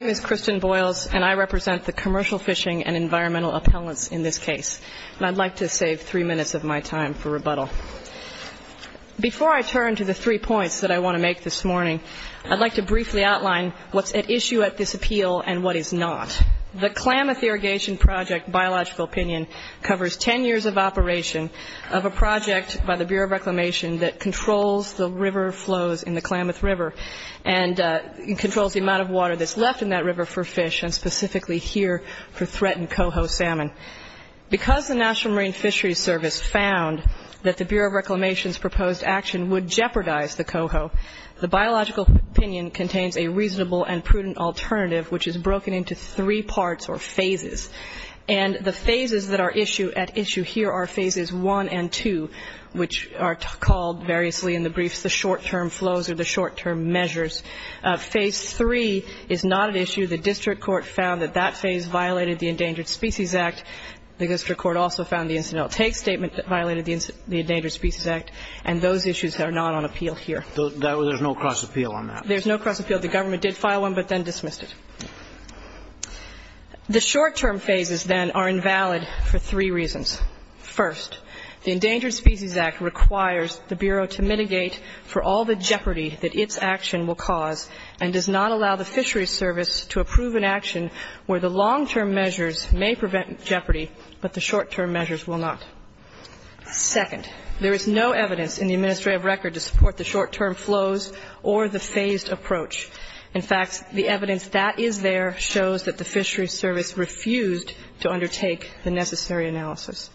My name is Kristen Boyles, and I represent the Commercial Fishing and Environmental Appellants in this case, and I'd like to save three minutes of my time for rebuttal. Before I turn to the three points that I want to make this morning, I'd like to briefly outline what's at issue at this appeal and what is not. The Klamath Irrigation Project Biological Opinion covers ten years of operation of a project by the Bureau of Reclamation that controls the river flows in the Klamath River and controls the amount of water that's left in that river for fish, and specifically here for threatened coho salmon. Because the National Marine Fisheries Service found that the Bureau of Reclamation's proposed action would jeopardize the coho, the Biological Opinion contains a reasonable and prudent alternative which is broken into three parts or phases, and the phases that are at issue here are phases one and two, which are called variously in the briefs the short-term flows or the short-term measures. Phase three is not at issue. The district court found that that phase violated the Endangered Species Act. The district court also found the incidental take statement that violated the Endangered Species Act, and those issues are not on appeal here. There's no cross-appeal on that? There's no cross-appeal. The government did file one, but then dismissed it. The short-term phases, then, are invalid for three reasons. First, the Endangered Species Act requires the Bureau to mitigate for all the jeopardy that its action will cause and does not allow the fisheries service to approve an action where the long-term measures may prevent jeopardy, but the short-term measures will not. Second, there is no evidence in the administrative record to support the short-term flows or the phased approach. In fact, the evidence that is there shows that the fisheries service refused to undertake the necessary analysis.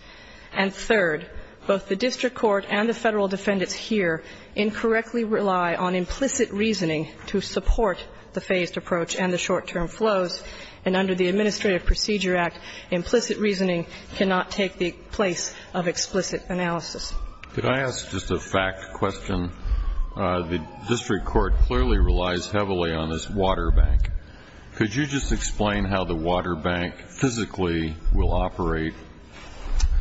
And third, both the district court and the Federal defendants here incorrectly rely on implicit reasoning to support the phased approach and the short-term flows, and under the Administrative Procedure Act, implicit reasoning cannot take the place of explicit analysis. Could I ask just a fact question? The district court clearly relies heavily on this water bank. Could you just explain how the water bank physically will operate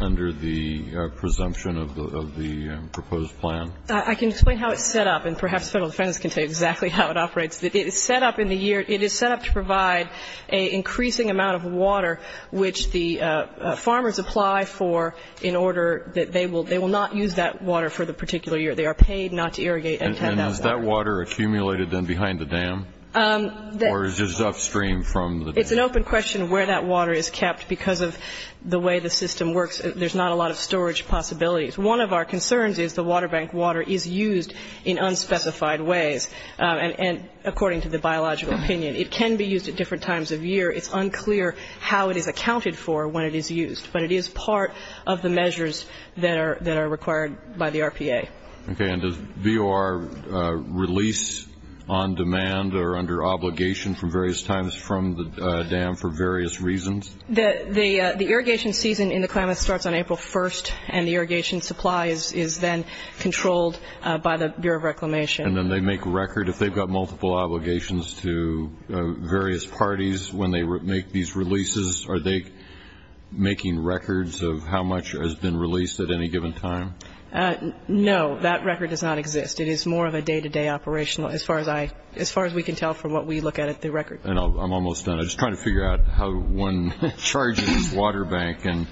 under the presumption of the proposed plan? I can explain how it's set up, and perhaps Federal defendants can tell you exactly how it operates. It is set up in the year, it is set up to provide an increasing amount of water which the farmers apply for in order that they will not use that water for the particular year. They are paid not to irrigate and tend that water. And is that water accumulated then behind the dam? Or is it upstream from the dam? It's an open question where that water is kept because of the way the system works. There's not a lot of storage possibilities. One of our concerns is the water bank water is used in unspecified ways. And according to the biological opinion, it can be used at different times of year. It's unclear how it is accounted for when it is used. But it is part of the measures that are required by the RPA. Okay. And does VOR release on demand or under obligation from various times from the dam for various reasons? The irrigation season in the Klamath starts on April 1st, and the irrigation supply is then controlled by the Bureau of Reclamation. And then they make record, if they've got multiple obligations to various parties when they make these releases, are they making records of how much has been released at any given time? No. That record does not exist. It is more of a day-to-day operational as far as we can tell from what we look at at the record. I'm almost done. I'm just trying to figure out how one charges water bank and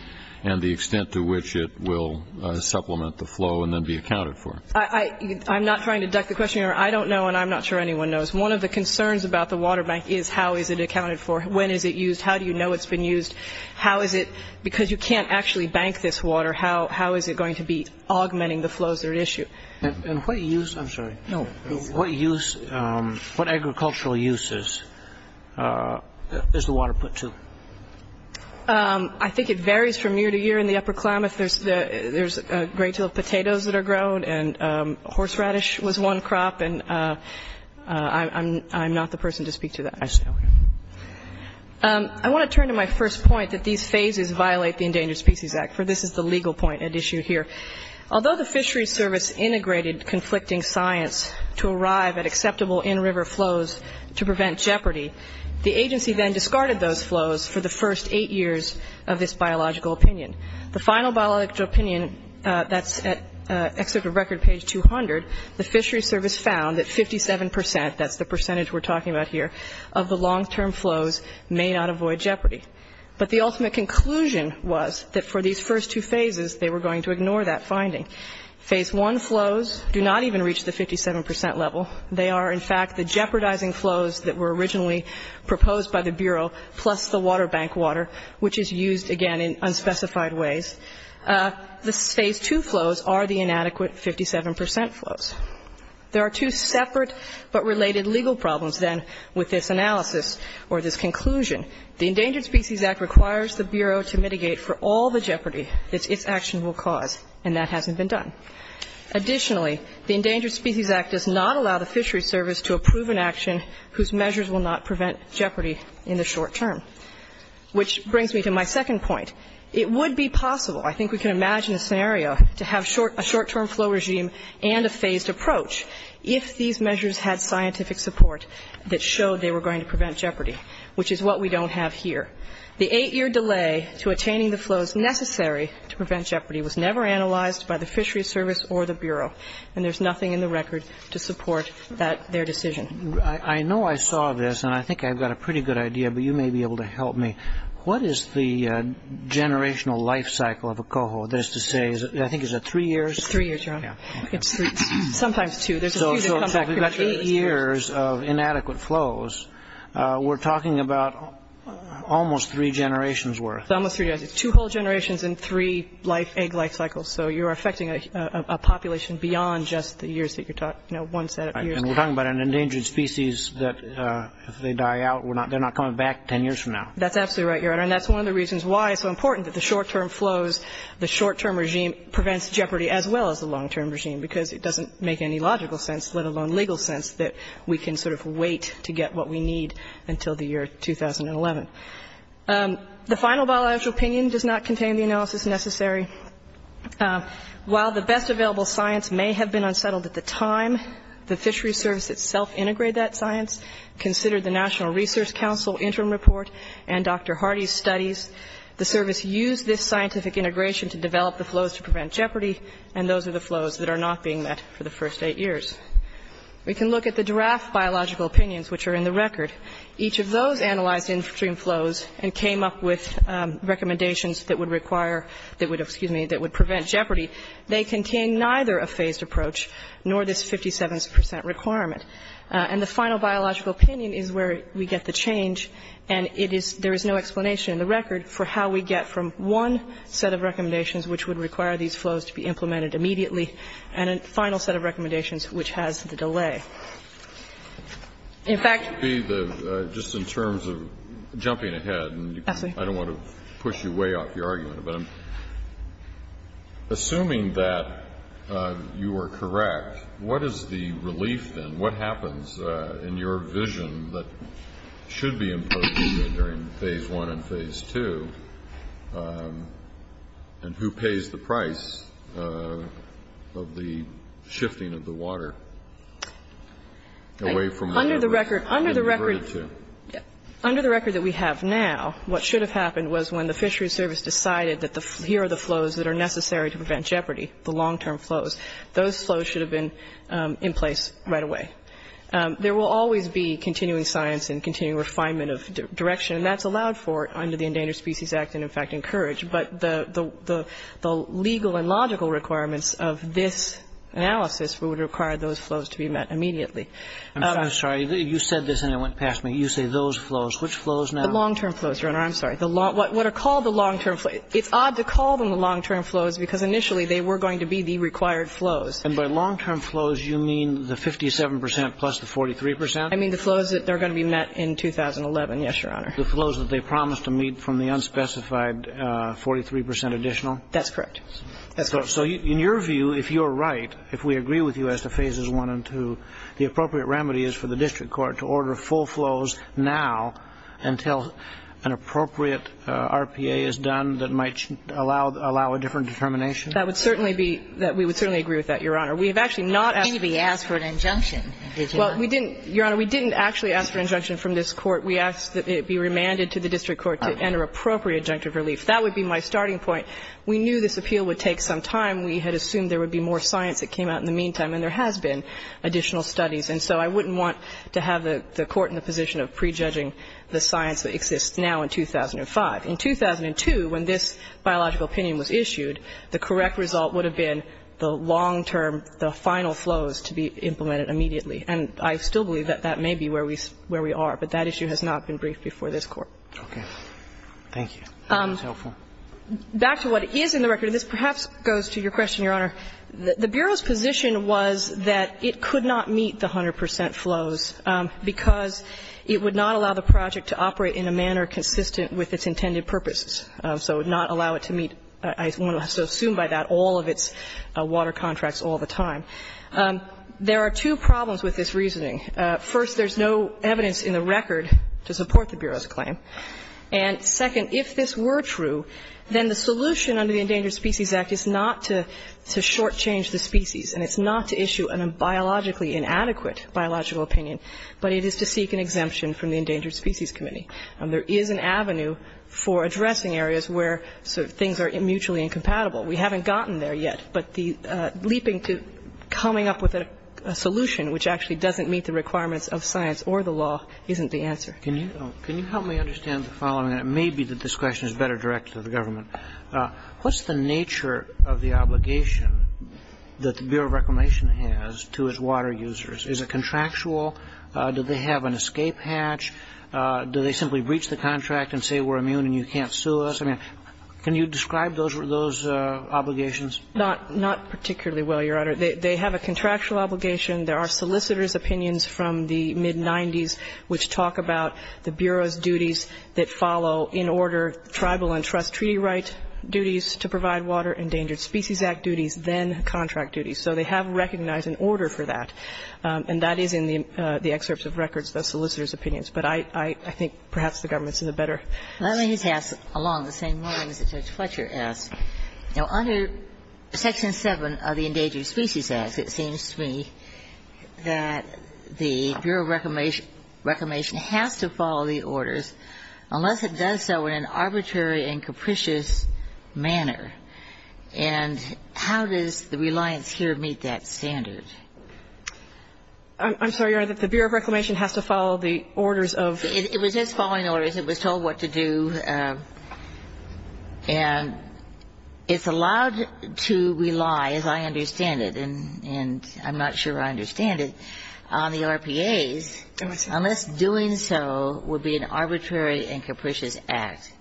the extent to which it will supplement the flow and then be accounted for. I'm not trying to duck the question here. I don't know, and I'm not sure anyone knows. One of the concerns about the water bank is how is it accounted for? When is it used? How do you know it's been used? How is it, because you can't actually bank this water, how is it going to be augmenting the flows that are issued? And what agricultural use is the water put to? I think it varies from year to year in the upper Klamath. There's a great deal of potatoes that are grown, and horseradish was one crop, and I'm not the person to speak to that. I see. I want to turn to my first point, that these phases violate the Endangered Species Act, for this is the legal point at issue here. Although the Fisheries Service integrated conflicting science to arrive at acceptable in-river flows to prevent jeopardy, the agency then discarded those flows for the first eight years of this biological opinion. The final biological opinion, that's at Excerpt of Record, page 200, the Fisheries Service found that 57 percent, that's the percentage we're talking about here, of the long-term flows may not avoid jeopardy. But the ultimate conclusion was that for these first two phases, they were going to ignore that finding. Phase I flows do not even reach the 57 percent level. They are, in fact, the jeopardizing flows that were originally proposed by the Bureau, plus the water bank water, which is used, again, in unspecified ways. The Phase II flows are the inadequate 57 percent flows. There are two separate but related legal problems, then, with this analysis or this conclusion. The Endangered Species Act requires the Bureau to mitigate for all the jeopardy that its action will cause, and that hasn't been done. Additionally, the Endangered Species Act does not allow the Fisheries Service to approve an action whose measures will not prevent jeopardy in the short term. Which brings me to my second point. It would be possible, I think we can imagine a scenario, to have a short-term flow regime and a phased approach if these measures had scientific support that showed they were going to prevent jeopardy, which is what we don't have here. The eight-year delay to attaining the flows necessary to prevent jeopardy was never analyzed by the Fisheries Service or the Bureau, and there's nothing in the record to support their decision. I know I saw this, and I think I've got a pretty good idea, but you may be able to help me. What is the generational life cycle of a coho? That is to say, I think is it three years? It's three years, Your Honor. Sometimes two. So we've got eight years of inadequate flows. We're talking about almost three generations' worth. Two whole generations and three egg life cycles. So you're affecting a population beyond just the years that you're talking about, one set of years. And we're talking about an endangered species that if they die out, they're not coming back ten years from now. That's absolutely right, Your Honor. And that's one of the reasons why it's so important that the short-term flows, the short-term regime prevents jeopardy as well as the long-term regime because it doesn't make any logical sense, let alone legal sense, that we can sort of wait to get what we need until the year 2011. The final bilateral opinion does not contain the analysis necessary. While the best available science may have been unsettled at the time, the fishery service itself integrated that science, considered the National Research Council interim report and Dr. Hardy's studies. The service used this scientific integration to develop the flows to prevent jeopardy, and those are the flows that are not being met for the first eight years. We can look at the draft biological opinions, which are in the record. Each of those analyzed in-stream flows and came up with recommendations that would require, that would, excuse me, that would prevent jeopardy. They contain neither a phased approach nor this 57 percent requirement. And the final biological opinion is where we get the change, and it is, there is no explanation in the record for how we get from one set of recommendations which would require these flows to be implemented immediately, and a final set of recommendations which has the delay. In fact the Just in terms of jumping ahead, and I don't want to push you way off your argument, but assuming that you are correct, what is the relief then? What happens in your vision that should be imposed during Phase I and Phase II, and who pays the price of the shifting of the water away from the river? Under the record that we have now, what should have happened was when the Fisheries Service decided that here are the flows that are necessary to prevent jeopardy, the long-term flows, those flows should have been in place right away. There will always be continuing science and continuing refinement of direction, and that's allowed for under the Endangered Species Act and, in fact, encouraged. But the legal and logical requirements of this analysis would require those flows to be met immediately. I'm sorry. You said this and it went past me. You say those flows. Which flows now? The long-term flows, Your Honor. I'm sorry. What are called the long-term flows. It's odd to call them the long-term flows because initially they were going to be the required flows. And by long-term flows you mean the 57 percent plus the 43 percent? I mean the flows that are going to be met in 2011, yes, Your Honor. The flows that they promised to meet from the unspecified 43 percent additional? That's correct. That's correct. So in your view, if you're right, if we agree with you as to Phases I and II, the appropriate remedy is for the district court to order full flows now until an appropriate RPA is done that might allow a different determination? That would certainly be that we would certainly agree with that, Your Honor. We have actually not asked for an injunction. Well, we didn't, Your Honor, we didn't actually ask for an injunction from this court. We asked that it be remanded to the district court to enter appropriate junctive relief. That would be my starting point. We knew this appeal would take some time. We had assumed there would be more science that came out in the meantime, and there has been additional studies. And so I wouldn't want to have the court in the position of prejudging the science that exists now in 2005. In 2002, when this biological opinion was issued, the correct result would have been the long-term, the final flows to be implemented immediately. And I still believe that that may be where we are, but that issue has not been briefed before this Court. Okay. Thank you. That was helpful. Back to what is in the record, and this perhaps goes to your question, Your Honor. The Bureau's position was that it could not meet the 100 percent flows because it would not allow the project to operate in a manner consistent with its intended purposes. So it would not allow it to meet, I want to assume by that, all of its water contracts all the time. There are two problems with this reasoning. First, there's no evidence in the record to support the Bureau's claim. And second, if this were true, then the solution under the Endangered Species Act is not to shortchange the species, and it's not to issue a biologically inadequate biological opinion, but it is to seek an exemption from the Endangered Species Committee. There is an avenue for addressing areas where sort of things are mutually incompatible. We haven't gotten there yet, but the leaping to coming up with a solution which actually doesn't meet the requirements of science or the law isn't the answer. Can you help me understand the following? It may be that this question is better directed to the government. What's the nature of the obligation that the Bureau of Reclamation has to its water users? Is it contractual? Do they have an escape hatch? Do they simply breach the contract and say we're immune and you can't sue us? I mean, can you describe those obligations? Not particularly well, Your Honor. They have a contractual obligation. There are solicitor's opinions from the mid-'90s which talk about the Bureau's duties that follow in order, tribal and trust treaty right duties to provide water, Endangered Species Act duties, then contract duties. So they have recognized an order for that. And that is in the excerpts of records, the solicitor's opinions. But I think perhaps the government's in a better position. Let me just ask along the same lines that Judge Fletcher asked. Now, under Section 7 of the Endangered Species Act, it seems to me that the Bureau of Reclamation has to follow the orders, unless it does so in an arbitrary and capricious manner. And how does the reliance here meet that standard? I'm sorry, Your Honor, that the Bureau of Reclamation has to follow the orders It was just following orders. It was told what to do. And it's allowed to rely, as I understand it, and I'm not sure I understand it, on the RPAs unless doing so would be an arbitrary and capricious act.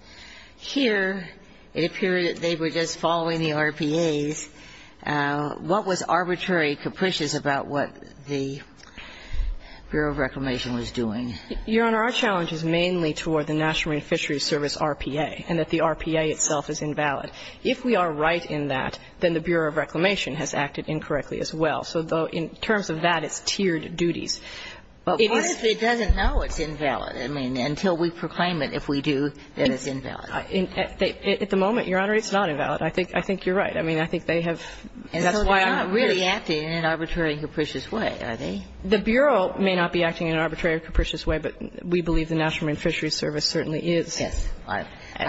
Here it appeared that they were just following the RPAs. What was arbitrary, capricious about what the Bureau of Reclamation was doing? Your Honor, our challenge is mainly toward the National Marine Fisheries Service RPA, and that the RPA itself is invalid. If we are right in that, then the Bureau of Reclamation has acted incorrectly as well. So in terms of that, it's tiered duties. But what if it doesn't know it's invalid? I mean, until we proclaim it, if we do, then it's invalid. At the moment, Your Honor, it's not invalid. I think you're right. I mean, I think they have that's why I'm asking. It's not really acting in an arbitrary and capricious way, are they? The Bureau may not be acting in an arbitrary or capricious way, but we believe the National Marine Fisheries Service certainly is. Yes. I'm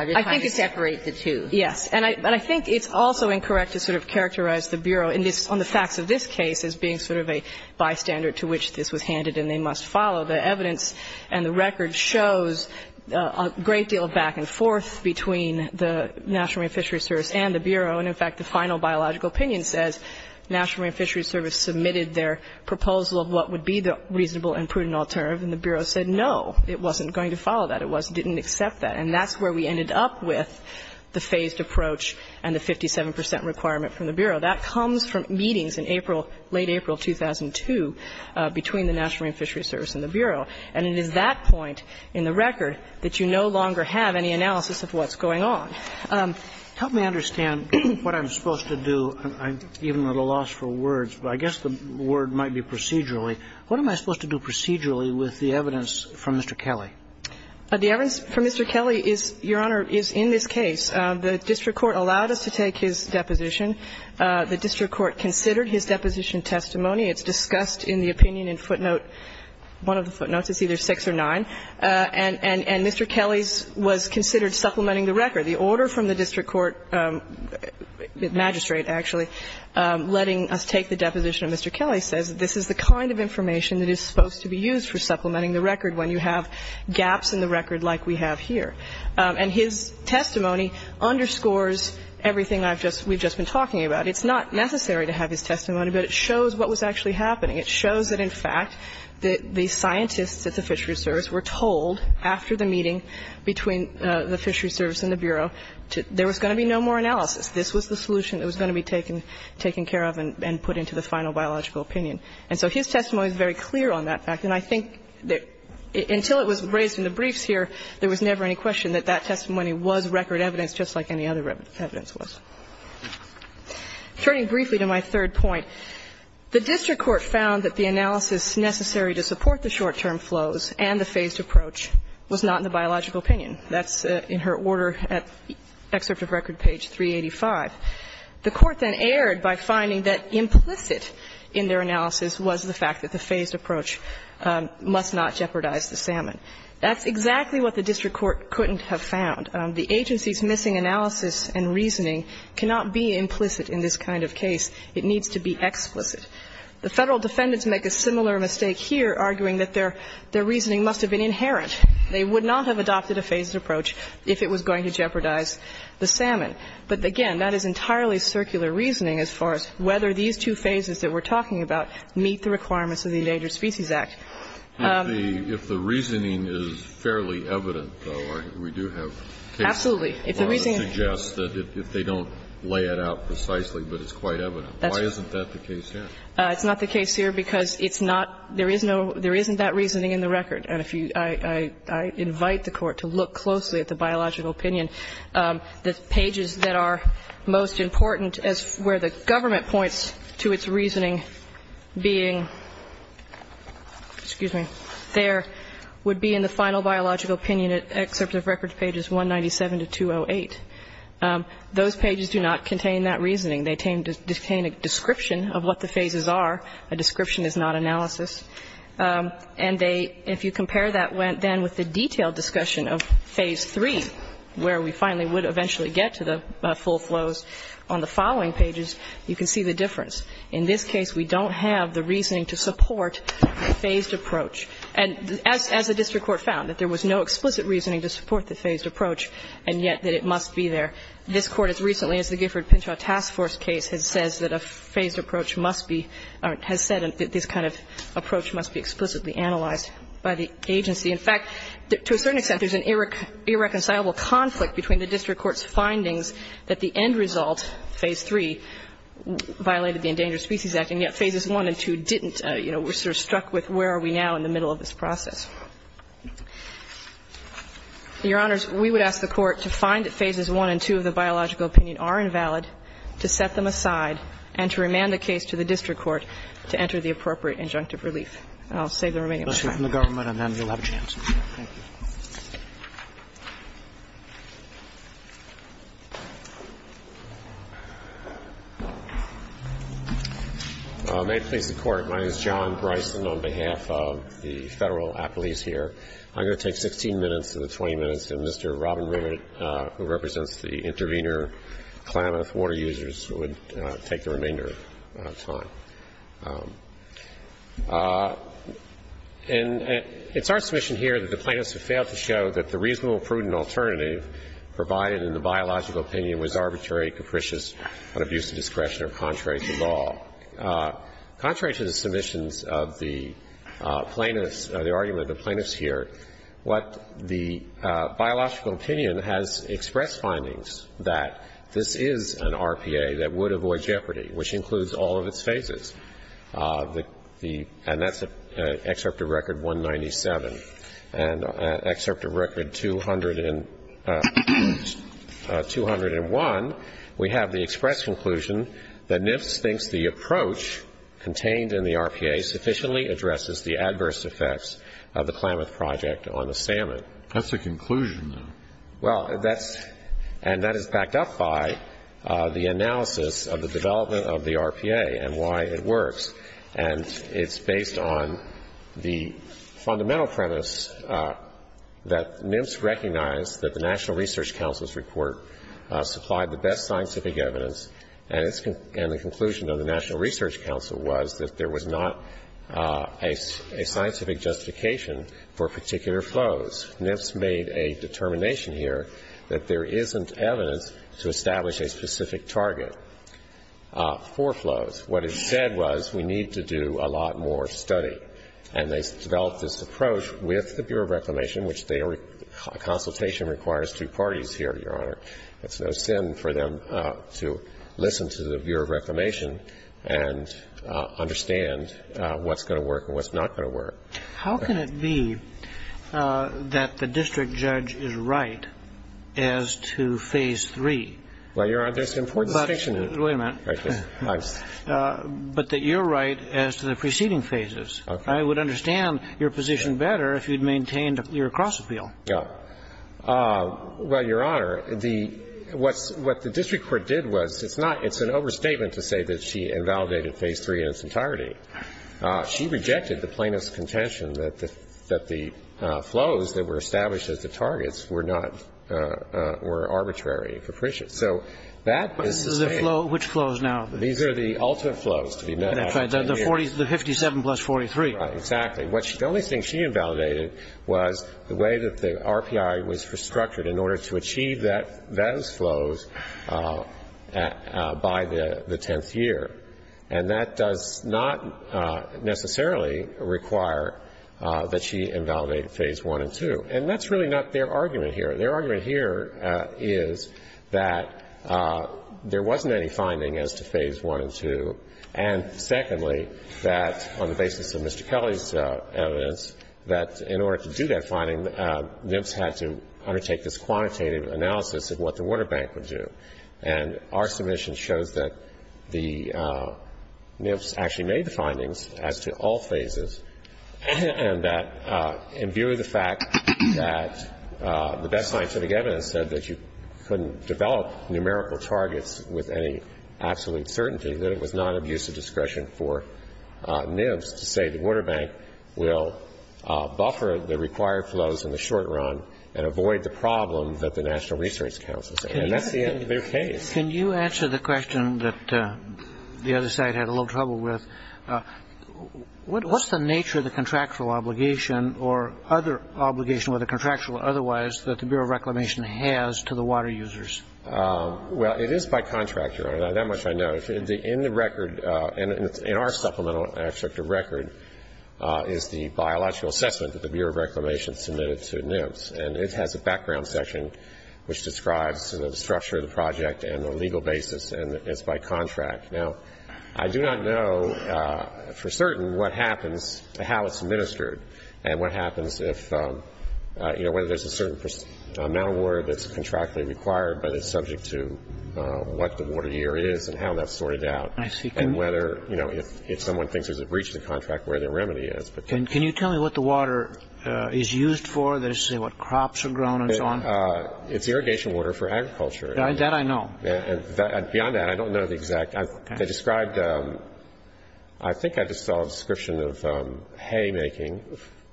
just trying to separate the two. Yes. And I think it's also incorrect to sort of characterize the Bureau on the facts of this case as being sort of a bystander to which this was handed and they must follow. The evidence and the record shows a great deal of back and forth between the National Marine Fisheries Service and the Bureau. And, in fact, the final biological opinion says National Marine Fisheries Service submitted their proposal of what would be the reasonable and prudent alternative and the Bureau said no. It wasn't going to follow that. It didn't accept that. And that's where we ended up with the phased approach and the 57 percent requirement from the Bureau. That comes from meetings in April, late April 2002, between the National Marine Fisheries Service and the Bureau. And it is that point in the record that you no longer have any analysis of what's going on. Help me understand what I'm supposed to do. I'm even at a loss for words, but I guess the word might be procedurally. What am I supposed to do procedurally with the evidence from Mr. Kelly? The evidence from Mr. Kelly is, Your Honor, is in this case. The district court allowed us to take his deposition. The district court considered his deposition testimony. It's discussed in the opinion in footnote, one of the footnotes. It's either 6 or 9. And Mr. Kelly's was considered supplementing the record. The order from the district court magistrate, actually, letting us take the deposition of Mr. Kelly says this is the kind of information that is supposed to be used for supplementing the record when you have gaps in the record like we have here. And his testimony underscores everything I've just we've just been talking about. It's not necessary to have his testimony, but it shows what was actually happening. It shows that, in fact, the scientists at the Fisheries Service were told after the Fisheries Service and the Bureau, there was going to be no more analysis. This was the solution that was going to be taken, taken care of and put into the final biological opinion. And so his testimony is very clear on that fact. And I think that until it was raised in the briefs here, there was never any question that that testimony was record evidence just like any other evidence was. Turning briefly to my third point, the district court found that the analysis necessary to support the short-term flows and the phased approach was not in the biological opinion. That's in her order at excerpt of record page 385. The court then erred by finding that implicit in their analysis was the fact that the phased approach must not jeopardize the salmon. That's exactly what the district court couldn't have found. The agency's missing analysis and reasoning cannot be implicit in this kind of case. It needs to be explicit. The Federal defendants make a similar mistake here, arguing that their reasoning must have been inherent. They would not have adopted a phased approach if it was going to jeopardize the salmon. But, again, that is entirely circular reasoning as far as whether these two phases that we're talking about meet the requirements of the Endangered Species Act. Kennedy. If the reasoning is fairly evident, though, we do have cases that suggest that if they don't lay it out precisely, but it's quite evident. Why isn't that the case here? It's not the case here because it's not, there is no, there isn't that reasoning in the record. And if you, I invite the Court to look closely at the biological opinion. The pages that are most important as where the government points to its reasoning being, excuse me, there, would be in the final biological opinion at Excerpt of Records pages 197 to 208. Those pages do not contain that reasoning. They contain a description of what the phases are. A description is not analysis. And they, if you compare that then with the detailed discussion of Phase 3, where we finally would eventually get to the full flows on the following pages, you can see the difference. In this case, we don't have the reasoning to support the phased approach. And as the district court found, that there was no explicit reasoning to support the phased approach, and yet that it must be there. This Court, as recently as the Gifford-Pinchot Task Force case, has said that a phased approach must be explicitly analyzed by the agency. In fact, to a certain extent, there's an irreconcilable conflict between the district court's findings that the end result, Phase 3, violated the Endangered Species Act, and yet Phases 1 and 2 didn't. You know, we're sort of struck with where are we now in the middle of this process. Your Honors, we would ask the Court to find that Phases 1 and 2 of the biological opinion are invalid, to set them aside, and to remand the case to the district court to enter the appropriate injunctive relief. And I'll save the remainder of my time. Roberts. May it please the Court. My name is John Bryson on behalf of the Federal Appellees here. I'm going to take 16 minutes of the 20 minutes, and Mr. Robin Rivett, who represents the intervener, Klamath, water users, would take the remainder of time. And it's our submission here that the plaintiffs have failed to show that the reasonable and prudent alternative provided in the biological opinion was arbitrary, capricious, but of use of discretion or contrary to law. Contrary to the submissions of the plaintiffs, the argument of the plaintiffs here, what the biological opinion has expressed findings that this is an RPA that would avoid jeopardy, which includes all of its phases. And that's excerpt of Record 197. And excerpt of Record 201, we have the express conclusion that NIFS thinks the approach contained in the RPA sufficiently addresses the adverse effects of the Klamath project on the salmon. That's the conclusion, though. Well, that's – and that is backed up by the analysis of the development of the RPA and why it works. And it's based on the fundamental premise that NIFS recognized that the National Research Council's report supplied the best scientific evidence, and the conclusion of the National Research Council was that there was not a scientific justification for particular flows. NIFS made a determination here that there isn't evidence to establish a specific target for flows. What it said was we need to do a lot more study. And they developed this approach with the Bureau of Reclamation, which a consultation requires two parties here, Your Honor. It's no sin for them to listen to the Bureau of Reclamation and understand what's going to work and what's not going to work. How can it be that the district judge is right as to Phase 3? Well, Your Honor, there's an important distinction there. Wait a minute. But that you're right as to the preceding phases. Okay. I would understand your position better if you'd maintained your cross-appeal. Yeah. Well, Your Honor, the – what the district court did was it's not – it's an overstatement to say that she invalidated Phase 3 in its entirety. She rejected the plaintiff's contention that the flows that were established as the targets were not – were arbitrary and capricious. So that is the same. Which flows now? These are the ultimate flows to be met after 10 years. The 57 plus 43. Right. Exactly. The only thing she invalidated was the way that the RPI was restructured in order to achieve those flows by the tenth year. And that does not necessarily require that she invalidate Phase 1 and 2. And that's really not their argument here. Their argument here is that there wasn't any finding as to Phase 1 and 2. And secondly, that on the basis of Mr. Kelly's evidence, that in order to do that finding, NIPS had to undertake this quantitative analysis of what the water bank would do. And our submission shows that the NIPS actually made the findings as to all phases, and that in view of the fact that the best scientific evidence said that you couldn't develop numerical targets with any absolute certainty, that it was non-abusive discretion for NIPS to say the water bank will buffer the required flows in the short run and avoid the problem that the National Research Council said. And that's their case. Can you answer the question that the other side had a little trouble with? What's the nature of the contractual obligation or other obligation, whether contractual or otherwise, that the Bureau of Reclamation has to the water users? Well, it is by contract, Your Honor. That much I know. In the record, in our supplemental extractive record, is the biological assessment that the Bureau of Reclamation submitted to NIPS. And it has a background section which describes the structure of the project and the legal basis, and it's by contract. Now, I do not know for certain what happens, how it's administered, and what happens if, you know, whether there's a certain amount of water that's contractually required but is subject to what the water year is and how that's sorted out. I see. And whether, you know, if someone thinks there's a breach in the contract, where their remedy is. Can you tell me what the water is used for? Does it say what crops are grown and so on? It's irrigation water for agriculture. That I know. Beyond that, I don't know the exact. Okay. They described, I think I just saw a description of haymaking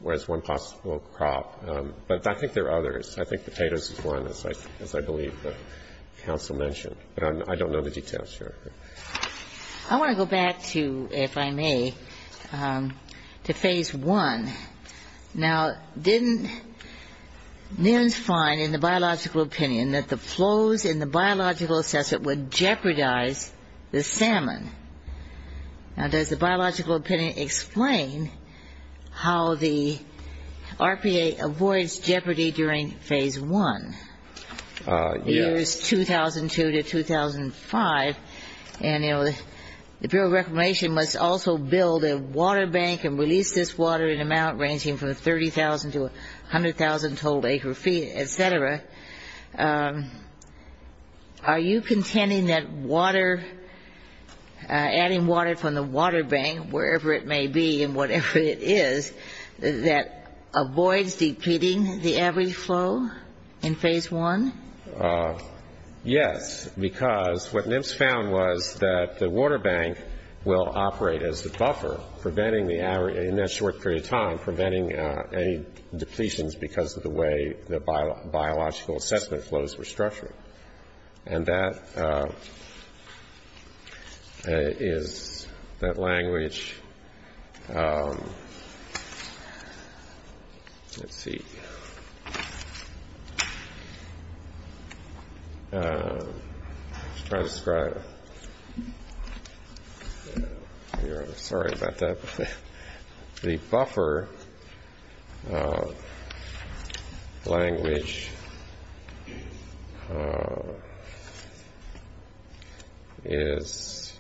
was one possible crop. But I think there are others. I think potatoes is one, as I believe the counsel mentioned. But I don't know the details, Your Honor. I want to go back to, if I may, to Phase 1. Now, didn't NIRNS find in the biological opinion that the flows in the biological assessment would jeopardize the salmon? Now, does the biological opinion explain how the RPA avoids jeopardy during Phase 1? Yes. Years 2002 to 2005, and, you know, the Bureau of Reclamation must also build a water bank and release this water in an amount ranging from 30,000 to 100,000 total acre feet, et cetera. Are you contending that adding water from the water bank, wherever it may be and whatever it is, that avoids depleting the average flow in Phase 1? Yes, because what NIRNS found was that the water bank will operate as the buffer, preventing the average in that short period of time, preventing any depletions because of the way the biological assessment flows were structured. And that is that language. Let's see. I'm sorry about that. The buffer language is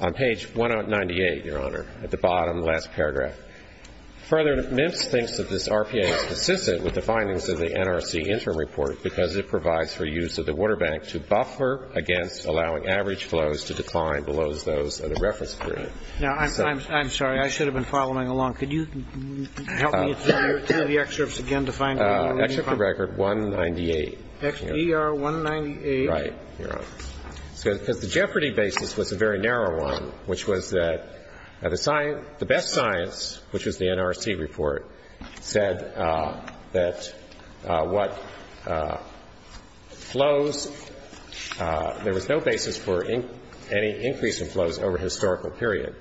on page 198, Your Honor, at the bottom of the last paragraph. Further, MIPS thinks that this RPA is consistent with the findings of the NRC interim report because it provides for use of the water bank to buffer against allowing average flows to decline below those of the reference period. Now, I'm sorry. I should have been following along. Could you help me through the excerpts again to find where you're going? Excerpt from Record 198. ER 198? Right, Your Honor. Because the jeopardy basis was a very narrow one, which was that the best science, which was the NRC report, said that what flows, there was no basis for any increase in flows over a historical period.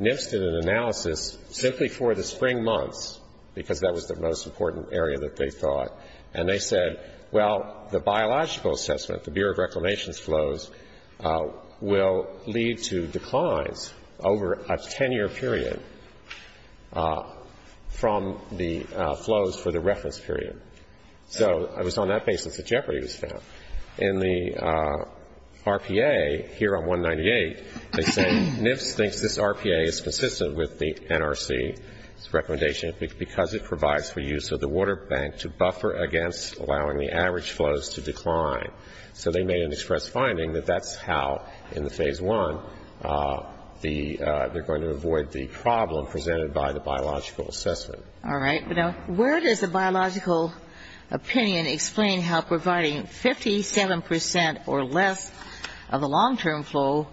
MIPS did an analysis simply for the spring months because that was the most important area that they thought, and they said, well, the biological assessment, the Bureau of Reclamation's flows, will lead to declines over a 10-year period from the flows for the reference period. So it was on that basis that jeopardy was found. In the RPA here on 198, they say MIPS thinks this RPA is consistent with the NRC's recommendation because it provides for use of the water bank to buffer against allowing the average flows to decline. So they made an express finding that that's how, in the Phase I, they're going to avoid the problem presented by the biological assessment. All right. Now, where does the biological opinion explain how providing 57 percent or less of a long-term flow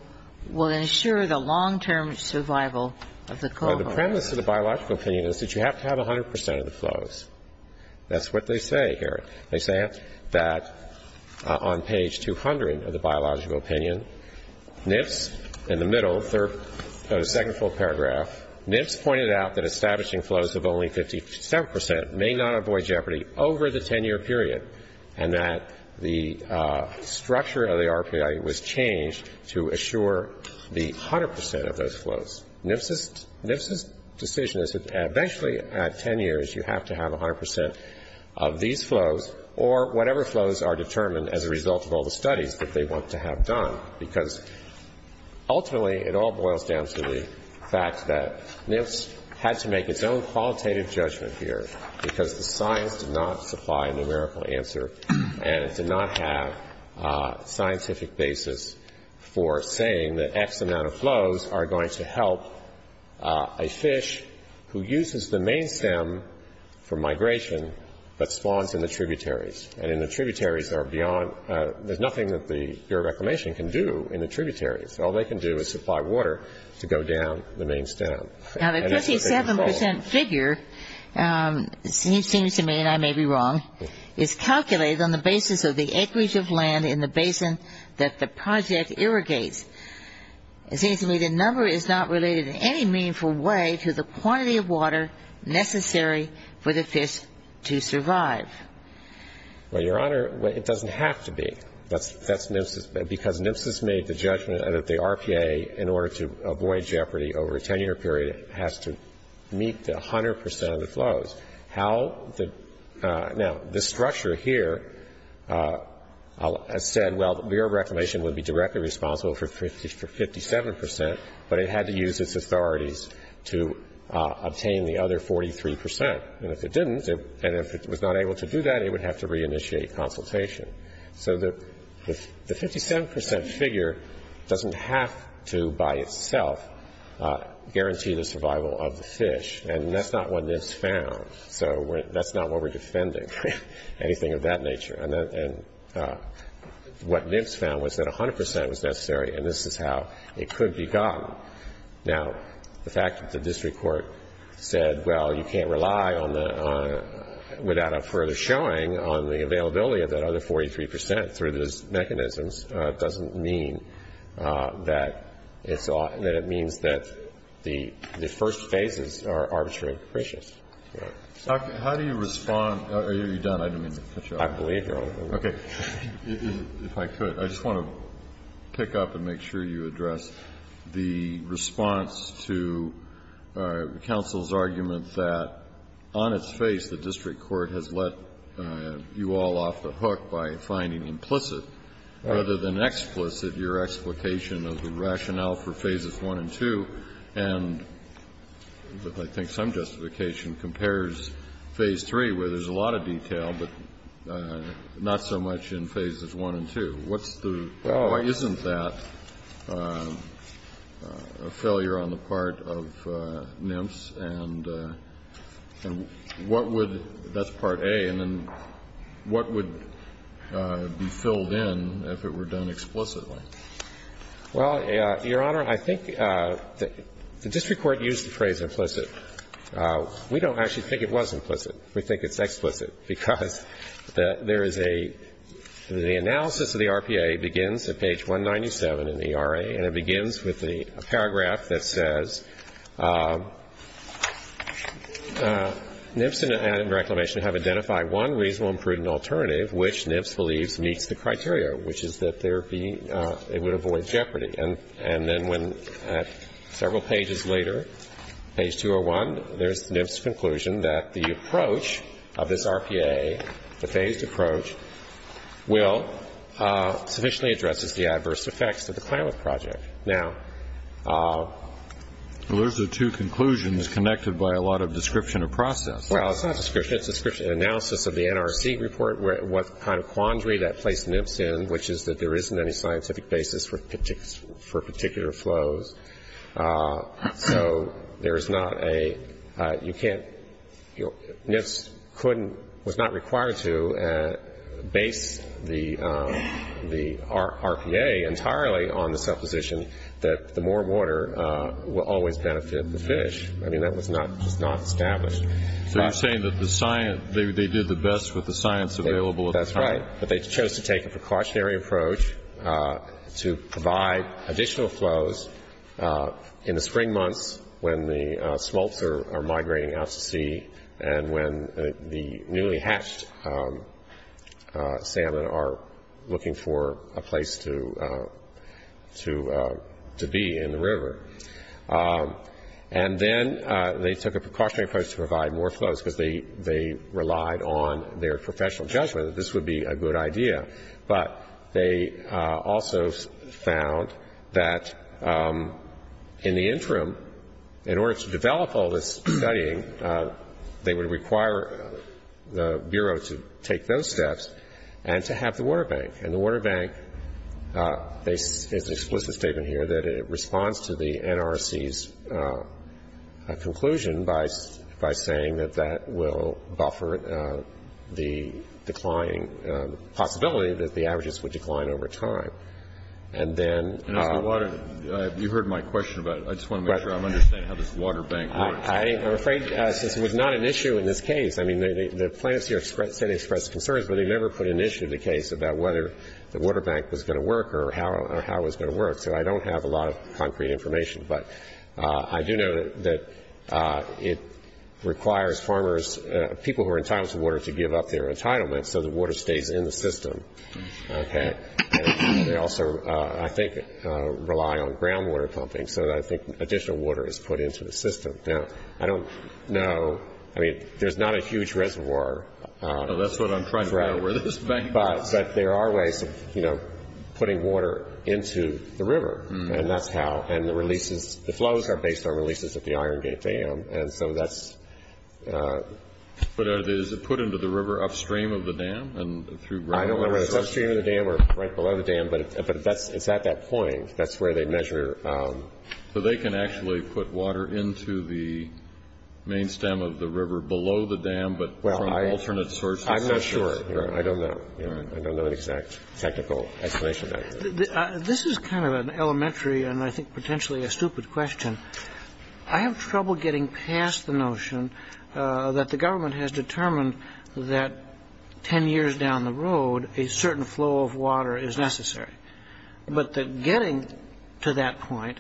will ensure the long-term survival of the cohort? Well, the premise of the biological opinion is that you have to have 100 percent of the flows. That's what they say here. They say that on page 200 of the biological opinion, MIPS, in the middle, second full paragraph, MIPS pointed out that establishing flows of only 57 percent may not avoid jeopardy over the 10-year period and that the structure of the RPA was changed to assure the 100 percent of those flows. MIPS's decision is that eventually, at 10 years, you have to have 100 percent of these flows or whatever flows are determined as a result of all the studies that they want to have done, because ultimately it all boils down to the fact that MIPS had to make its own qualitative judgment here because the science did not supply a numerical answer and it did not have a scientific basis for saying that X amount of flows are going to help a fish who uses the main stem for migration but spawns in the tributaries. There's nothing that the Bureau of Reclamation can do in the tributaries. All they can do is supply water to go down the main stem. Now, the 57 percent figure seems to me, and I may be wrong, is calculated on the basis of the acreage of land in the basin that the project irrigates. It seems to me the number is not related in any meaningful way to the quantity of water necessary for the fish to survive. Well, Your Honor, it doesn't have to be. That's MIPS's. Because MIPS has made the judgment that the RPA, in order to avoid jeopardy over a 10-year period, has to meet the 100 percent of the flows. Now, the structure here has said, well, the Bureau of Reclamation would be directly responsible for 57 percent, but it had to use its authorities to obtain the other 43 percent. And if it didn't, and if it was not able to do that, it would have to reinitiate consultation. So the 57 percent figure doesn't have to, by itself, guarantee the survival of the fish, and that's not what MIPS found. So that's not what we're defending, anything of that nature. And what MIPS found was that 100 percent was necessary, and this is how it could be gotten. Now, the fact that the district court said, well, you can't rely without a further showing on the availability of that other 43 percent through those mechanisms doesn't mean that it means that the first phases are arbitrarily precious. How do you respond? Are you done? I didn't mean to cut you off. I believe you're open. Okay. If I could, I just want to pick up and make sure you address the response to counsel's argument that, on its face, the district court has let you all off the hook by finding implicit, rather than explicit, your explication of the rationale for phases 1 and 2, and I think some justification compares phase 3, where there's a lot of detail, but not so much in phases 1 and 2. What's the why isn't that a failure on the part of MIPS, and what would, that's part A, and then what would be filled in if it were done explicitly? Well, Your Honor, I think the district court used the phrase implicit. We don't actually think it was implicit. We think it's explicit, because there is a, the analysis of the RPA begins at page 197 in the ERA, and it begins with a paragraph that says, MIPS and reclamation have identified one reasonable and prudent alternative which MIPS believes meets the criteria, which is that there be, it would avoid jeopardy. And then when, several pages later, page 201, there's MIPS' conclusion that the approach of this RPA, the phased approach, will, sufficiently addresses the adverse effects of the climate project. Now, Well, those are the two conclusions connected by a lot of description of process. Well, it's not description. It's description, analysis of the NRC report, what kind of quandary that placed MIPS in, which is that there isn't any scientific basis for particular flows. So there is not a, you can't, MIPS couldn't, was not required to base the RPA entirely on the supposition that the more water will always benefit the fish. I mean, that was not established. So you're saying that the science, they did the best with the science available at the time. That's right. But they chose to take a precautionary approach to provide additional flows in the spring months when the smolts are migrating out to sea and when the newly hatched salmon are looking for a place to be in the river. And then they took a precautionary approach to provide more flows because they relied on their professional judgment that this would be a good idea. But they also found that in the interim, in order to develop all this studying, they would require the Bureau to take those steps and to have the water bank. And the water bank, there's an explicit statement here that it responds to the NRC's conclusion by saying that that will buffer the declining possibility that the averages would decline over time. And then as the water, you heard my question about it. I just want to make sure I'm understanding how this water bank works. I'm afraid since it was not an issue in this case. I mean, the plaintiffs here say they expressed concerns, but they never put an issue to the case about whether the water bank was going to work or how it was going to work. So I don't have a lot of concrete information. But I do know that it requires farmers, people who are entitled to water, to give up their entitlement so the water stays in the system. Okay. And they also, I think, rely on groundwater pumping. So I think additional water is put into the system. Now, I don't know, I mean, there's not a huge reservoir. That's what I'm trying to figure out. But there are ways of, you know, putting water into the river. And that's how. And the releases, the flows are based on releases at the Iron Gate Dam. And so that's. But is it put into the river upstream of the dam and through groundwater? I don't know whether it's upstream of the dam or right below the dam, but it's at that point. That's where they measure. So they can actually put water into the main stem of the river below the dam, but from alternate sources? I'm not sure. I don't know. I don't know an exact technical explanation of that. This is kind of an elementary and I think potentially a stupid question. I have trouble getting past the notion that the government has determined that 10 years down the road a certain flow of water is necessary. But getting to that point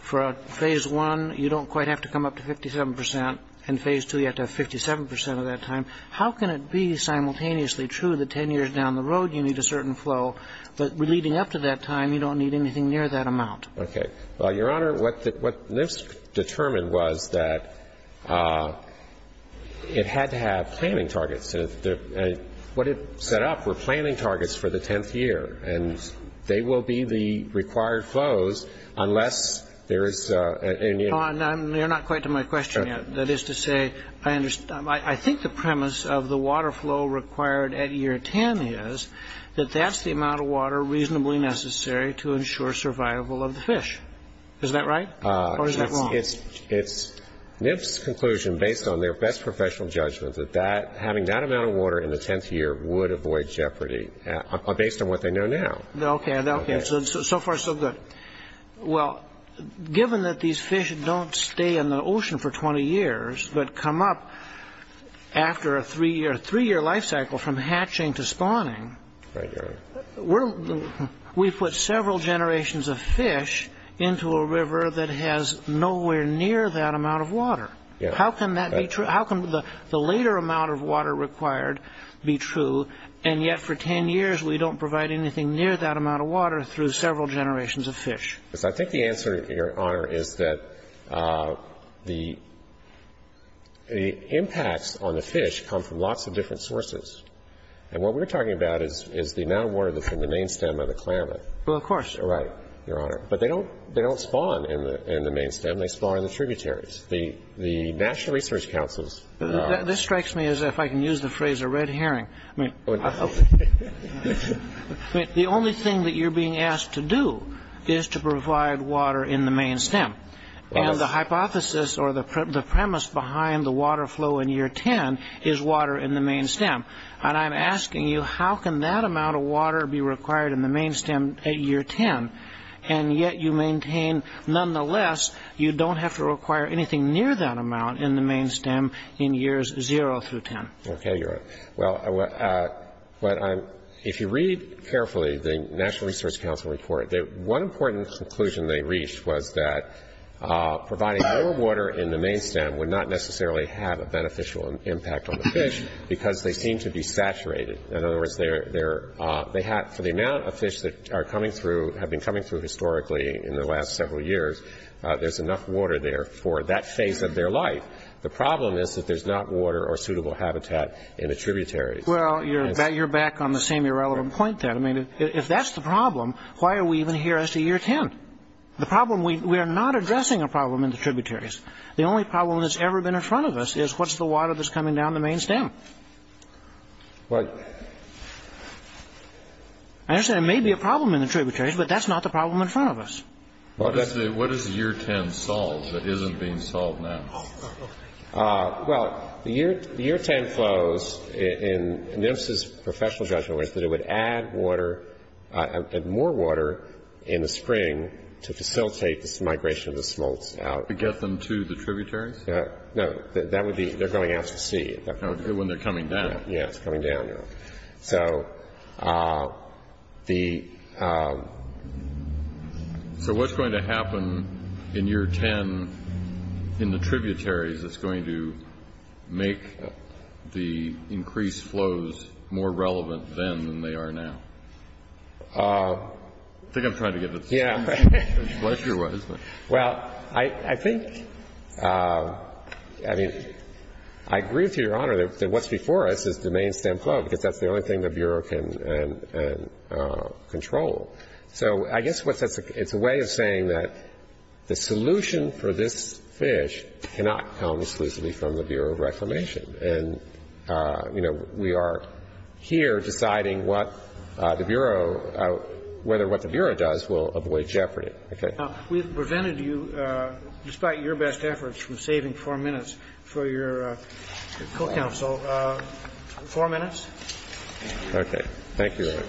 for phase one, you don't quite have to come up to 57 percent. And phase two, you have to have 57 percent of that time. How can it be simultaneously true that 10 years down the road you need a certain flow? But leading up to that time, you don't need anything near that amount. Okay. Well, Your Honor, what NISP determined was that it had to have planning targets. What it set up were planning targets for the 10th year. And they will be the required flows unless there is. You're not quite to my question yet. That is to say, I think the premise of the water flow required at year 10 is that that's the amount of water reasonably necessary to ensure survival of the fish. Is that right or is that wrong? It's NISP's conclusion based on their best professional judgment that having that amount of water in the 10th year would avoid jeopardy based on what they know now. Okay. So far, so good. Well, given that these fish don't stay in the ocean for 20 years but come up after a three-year life cycle from hatching to spawning. Right, Your Honor. We put several generations of fish into a river that has nowhere near that amount of water. How can that be true? How can the later amount of water required be true, and yet for 10 years we don't provide anything near that amount of water through several generations of fish? I think the answer, Your Honor, is that the impacts on the fish come from lots of different sources. And what we're talking about is the amount of water that's in the main stem of the Klamath. Well, of course. Right, Your Honor. But they don't spawn in the main stem. They spawn in the tributaries. The National Research Council's — This strikes me as if I can use the phrase a red herring. The only thing that you're being asked to do is to provide water in the main stem. And the hypothesis or the premise behind the water flow in year 10 is water in the main stem. And I'm asking you, how can that amount of water be required in the main stem at year 10, and yet you maintain nonetheless you don't have to require anything near that amount in the main stem in years 0 through 10? Okay, Your Honor. Well, if you read carefully the National Research Council report, one important conclusion they reached was that providing more water in the main stem would not necessarily have a beneficial impact on the fish because they seem to be saturated. In other words, for the amount of fish that have been coming through historically in the last several years, there's enough water there for that phase of their life. The problem is that there's not water or suitable habitat in the tributaries. Well, you're back on the same irrelevant point then. I mean, if that's the problem, why are we even here as to year 10? We are not addressing a problem in the tributaries. The only problem that's ever been in front of us is what's the water that's coming down the main stem? I understand there may be a problem in the tributaries, but that's not the problem in front of us. What is the year 10 solved that isn't being solved now? Well, the year 10 flows in NMSA's professional judgment was that it would add more water in the spring to facilitate this migration of the smolts out. To get them to the tributaries? No, they're going out to sea. When they're coming down. Yes, coming down. So what's going to happen in year 10 in the tributaries that's going to make the increased flows more relevant then than they are now? I think I'm trying to get to the same issue. Well, I think, I mean, I agree with Your Honor that what's before us is the main stem flow, because that's the only thing the Bureau can control. So I guess it's a way of saying that the solution for this fish cannot come exclusively from the Bureau of Reclamation. And, you know, we are here deciding what the Bureau, whether what the Bureau does will avoid jeopardy. We've prevented you, despite your best efforts, from saving four minutes for your co-counsel. Four minutes. Okay. Thank you, Your Honor.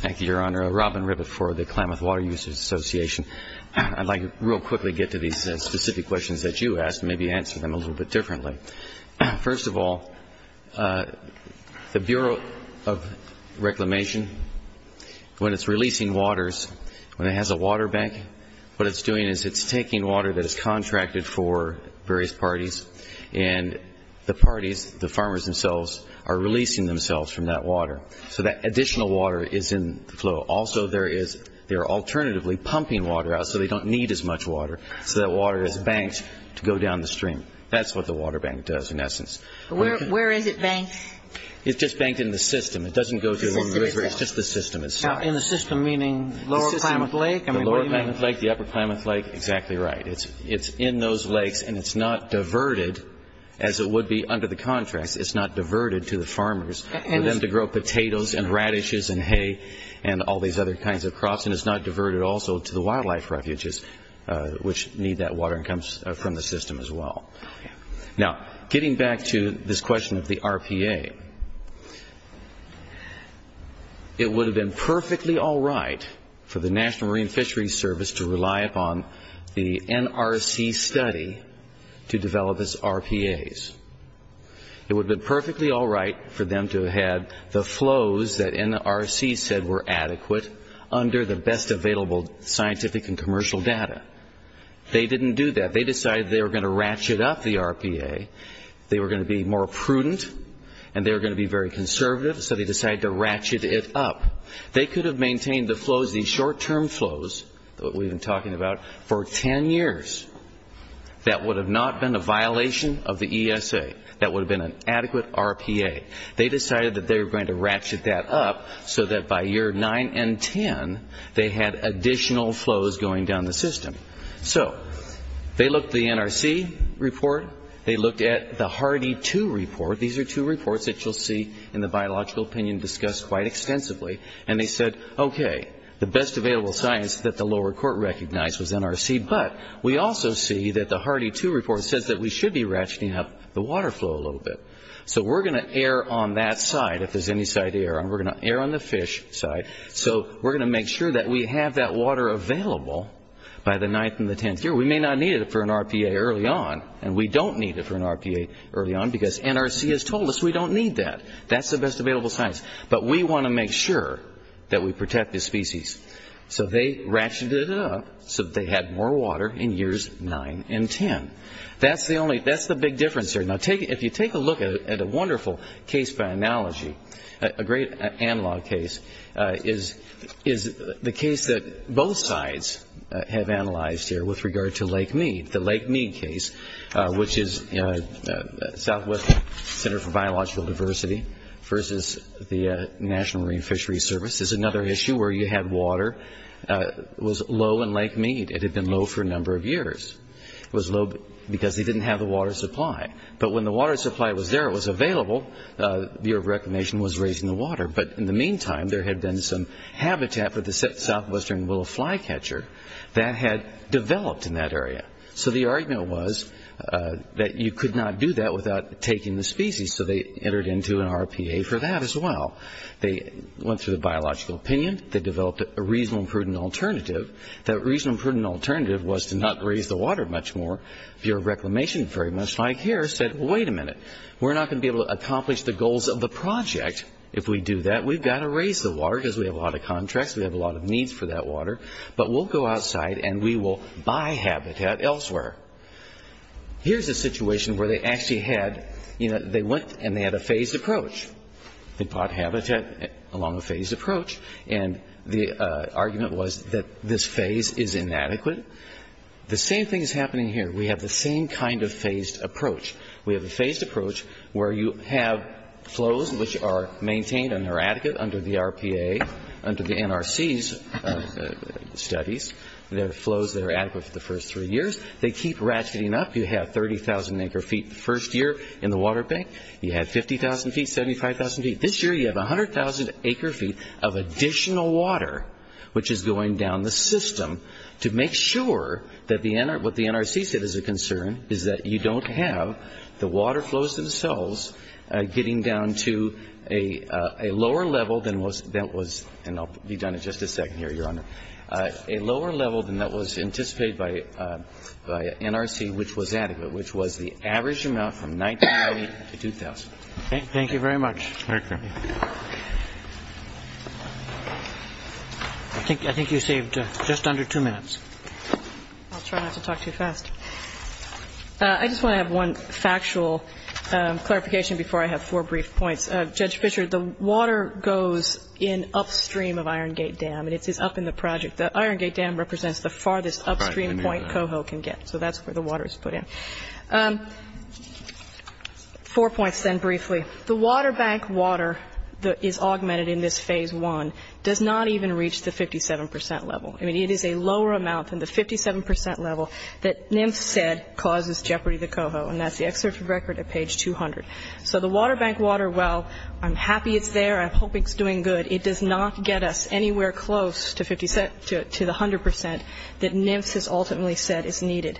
Thank you, Your Honor. Robin Ribbett for the Klamath Water Users Association. I'd like to real quickly get to these specific questions that you asked and maybe answer them a little bit differently. First of all, the Bureau of Reclamation, when it's releasing waters, when it has a water bank, what it's doing is it's taking water that is contracted for various parties, and the parties, the farmers themselves, are releasing themselves from that water. So that additional water is in the flow. Also, there is, they are alternatively pumping water out so they don't need as much water, so that water is banked to go down the stream. That's what the water bank does, in essence. Where is it banked? It's just banked in the system. It doesn't go to the river. It's just the system itself. Now, in the system meaning lower Klamath Lake? The lower Klamath Lake, the upper Klamath Lake, exactly right. It's in those lakes, and it's not diverted, as it would be under the contracts. It's not diverted to the farmers for them to grow potatoes and radishes and hay and all these other kinds of crops, and it's not diverted also to the wildlife refuges, which need that water and comes from the system as well. Now, getting back to this question of the RPA, it would have been perfectly all right for the National Marine Fisheries Service to rely upon the NRC study to develop its RPAs. It would have been perfectly all right for them to have had the flows that NRC said were adequate under the best available scientific and commercial data. They didn't do that. They decided they were going to ratchet up the RPA. They were going to be more prudent, and they were going to be very conservative, so they decided to ratchet it up. They could have maintained the flows, these short-term flows that we've been talking about, for 10 years. That would have not been a violation of the ESA. That would have been an adequate RPA. They decided that they were going to ratchet that up so that by year 9 and 10, they had additional flows going down the system. So they looked at the NRC report. They looked at the Hardy 2 report. These are two reports that you'll see in the biological opinion discussed quite extensively, and they said, okay, the best available science that the lower court recognized was NRC, but we also see that the Hardy 2 report says that we should be ratcheting up the water flow a little bit. So we're going to err on that side if there's any side to err on. We're going to err on the fish side. So we're going to make sure that we have that water available by the 9th and the 10th year. We may not need it for an RPA early on, and we don't need it for an RPA early on because NRC has told us we don't need that. That's the best available science. But we want to make sure that we protect the species. So they ratcheted it up so that they had more water in years 9 and 10. That's the big difference there. Now, if you take a look at a wonderful case by analogy, a great analog case, is the case that both sides have analyzed here with regard to Lake Mead. The Lake Mead case, which is Southwest Center for Biological Diversity versus the National Marine Fisheries Service is another issue where you had water was low in Lake Mead. Because they didn't have the water supply. But when the water supply was there, it was available, the Bureau of Reclamation was raising the water. But in the meantime, there had been some habitat for the southwestern willow flycatcher that had developed in that area. So the argument was that you could not do that without taking the species, so they entered into an RPA for that as well. They went through the biological opinion. They developed a reasonable and prudent alternative. That reasonable and prudent alternative was to not raise the water much more. Bureau of Reclamation, very much like here, said, wait a minute. We're not going to be able to accomplish the goals of the project if we do that. We've got to raise the water because we have a lot of contracts. We have a lot of needs for that water. But we'll go outside and we will buy habitat elsewhere. Here's a situation where they actually had, you know, they went and they had a phased approach. They bought habitat along a phased approach. And the argument was that this phase is inadequate. The same thing is happening here. We have the same kind of phased approach. We have a phased approach where you have flows which are maintained and they're adequate under the RPA, under the NRC's studies. There are flows that are adequate for the first three years. They keep ratcheting up. You have 30,000 acre feet the first year in the water bank. You had 50,000 feet, 75,000 feet. This year you have 100,000 acre feet of additional water, which is going down the system, to make sure that what the NRC said is a concern, is that you don't have the water flows themselves getting down to a lower level than was, and I'll be done in just a second here, Your Honor, a lower level than that was anticipated by NRC, which was adequate, which was the average amount from 1990 to 2000. Thank you very much. I think you saved just under two minutes. I'll try not to talk too fast. I just want to have one factual clarification before I have four brief points. Judge Fischer, the water goes in upstream of Iron Gate Dam, and it's up in the project. The Iron Gate Dam represents the farthest upstream point Coho can get, so that's where the water is put in. Four points then briefly. The water bank water that is augmented in this phase one does not even reach the 57% level. I mean, it is a lower amount than the 57% level that NMF said causes jeopardy to Coho, and that's the excerpt from the record at page 200. So the water bank water, while I'm happy it's there, I'm hoping it's doing good, it does not get us anywhere close to the 100% that NMF has ultimately said is needed.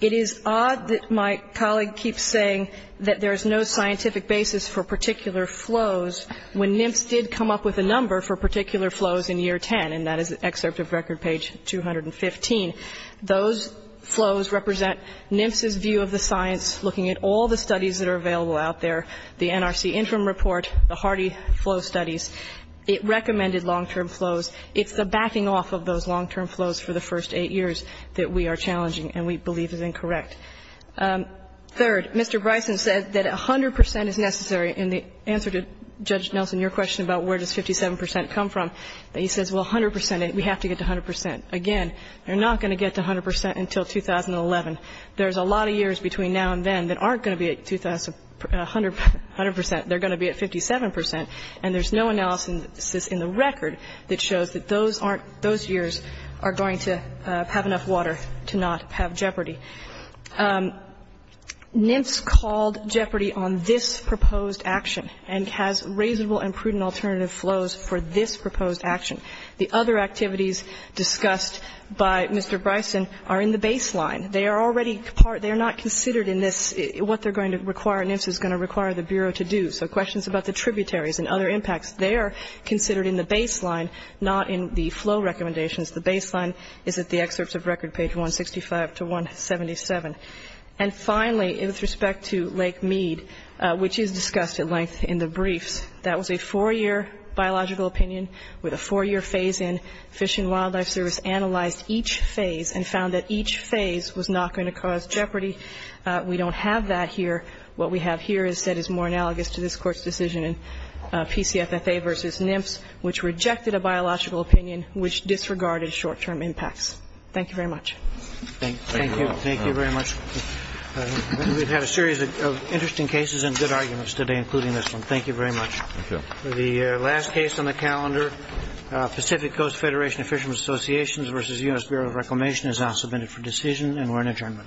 It is odd that my colleague keeps saying that there's no scientific basis for particular flows when NMF did come up with a number for particular flows in year 10, and that is excerpt of record page 215. Those flows represent NMF's view of the science looking at all the studies that are available out there, the NRC interim report, the Hardy flow studies. It recommended long-term flows. It's the backing off of those long-term flows for the first eight years that we are challenging and we believe is incorrect. Third, Mr. Bryson said that 100% is necessary, and the answer to Judge Nelson, your question about where does 57% come from, he says, well, 100%, we have to get to 100%. Again, you're not going to get to 100% until 2011. There's a lot of years between now and then that aren't going to be at 100%. They're going to be at 57%, and there's no analysis in the record that shows that those aren't, those years are going to have enough water to not have jeopardy. NMF's called jeopardy on this proposed action and has reasonable and prudent alternative flows for this proposed action. The other activities discussed by Mr. Bryson are in the baseline. They are already part, they are not considered in this, what they're going to require, NMF's is going to require the Bureau to do. So questions about the tributaries and other impacts, they are considered in the baseline, not in the flow recommendations. The baseline is at the excerpts of record, page 165 to 177. And finally, with respect to Lake Mead, which is discussed at length in the briefs, that was a four-year biological opinion with a four-year phase in. Fish and Wildlife Service analyzed each phase and found that each phase was not going to cause jeopardy. We don't have that here. What we have here is said is more analogous to this Court's decision in PCFFA v. NMF's, which rejected a biological opinion which disregarded short-term impacts. Thank you very much. Thank you. Thank you. Thank you very much. We've had a series of interesting cases and good arguments today, including this one. Thank you very much. Thank you. The last case on the calendar, Pacific Coast Federation of Fishermen's Associations v. U.S. Bureau of Reclamation, is now submitted for decision and we're in adjournment. Thank you very much.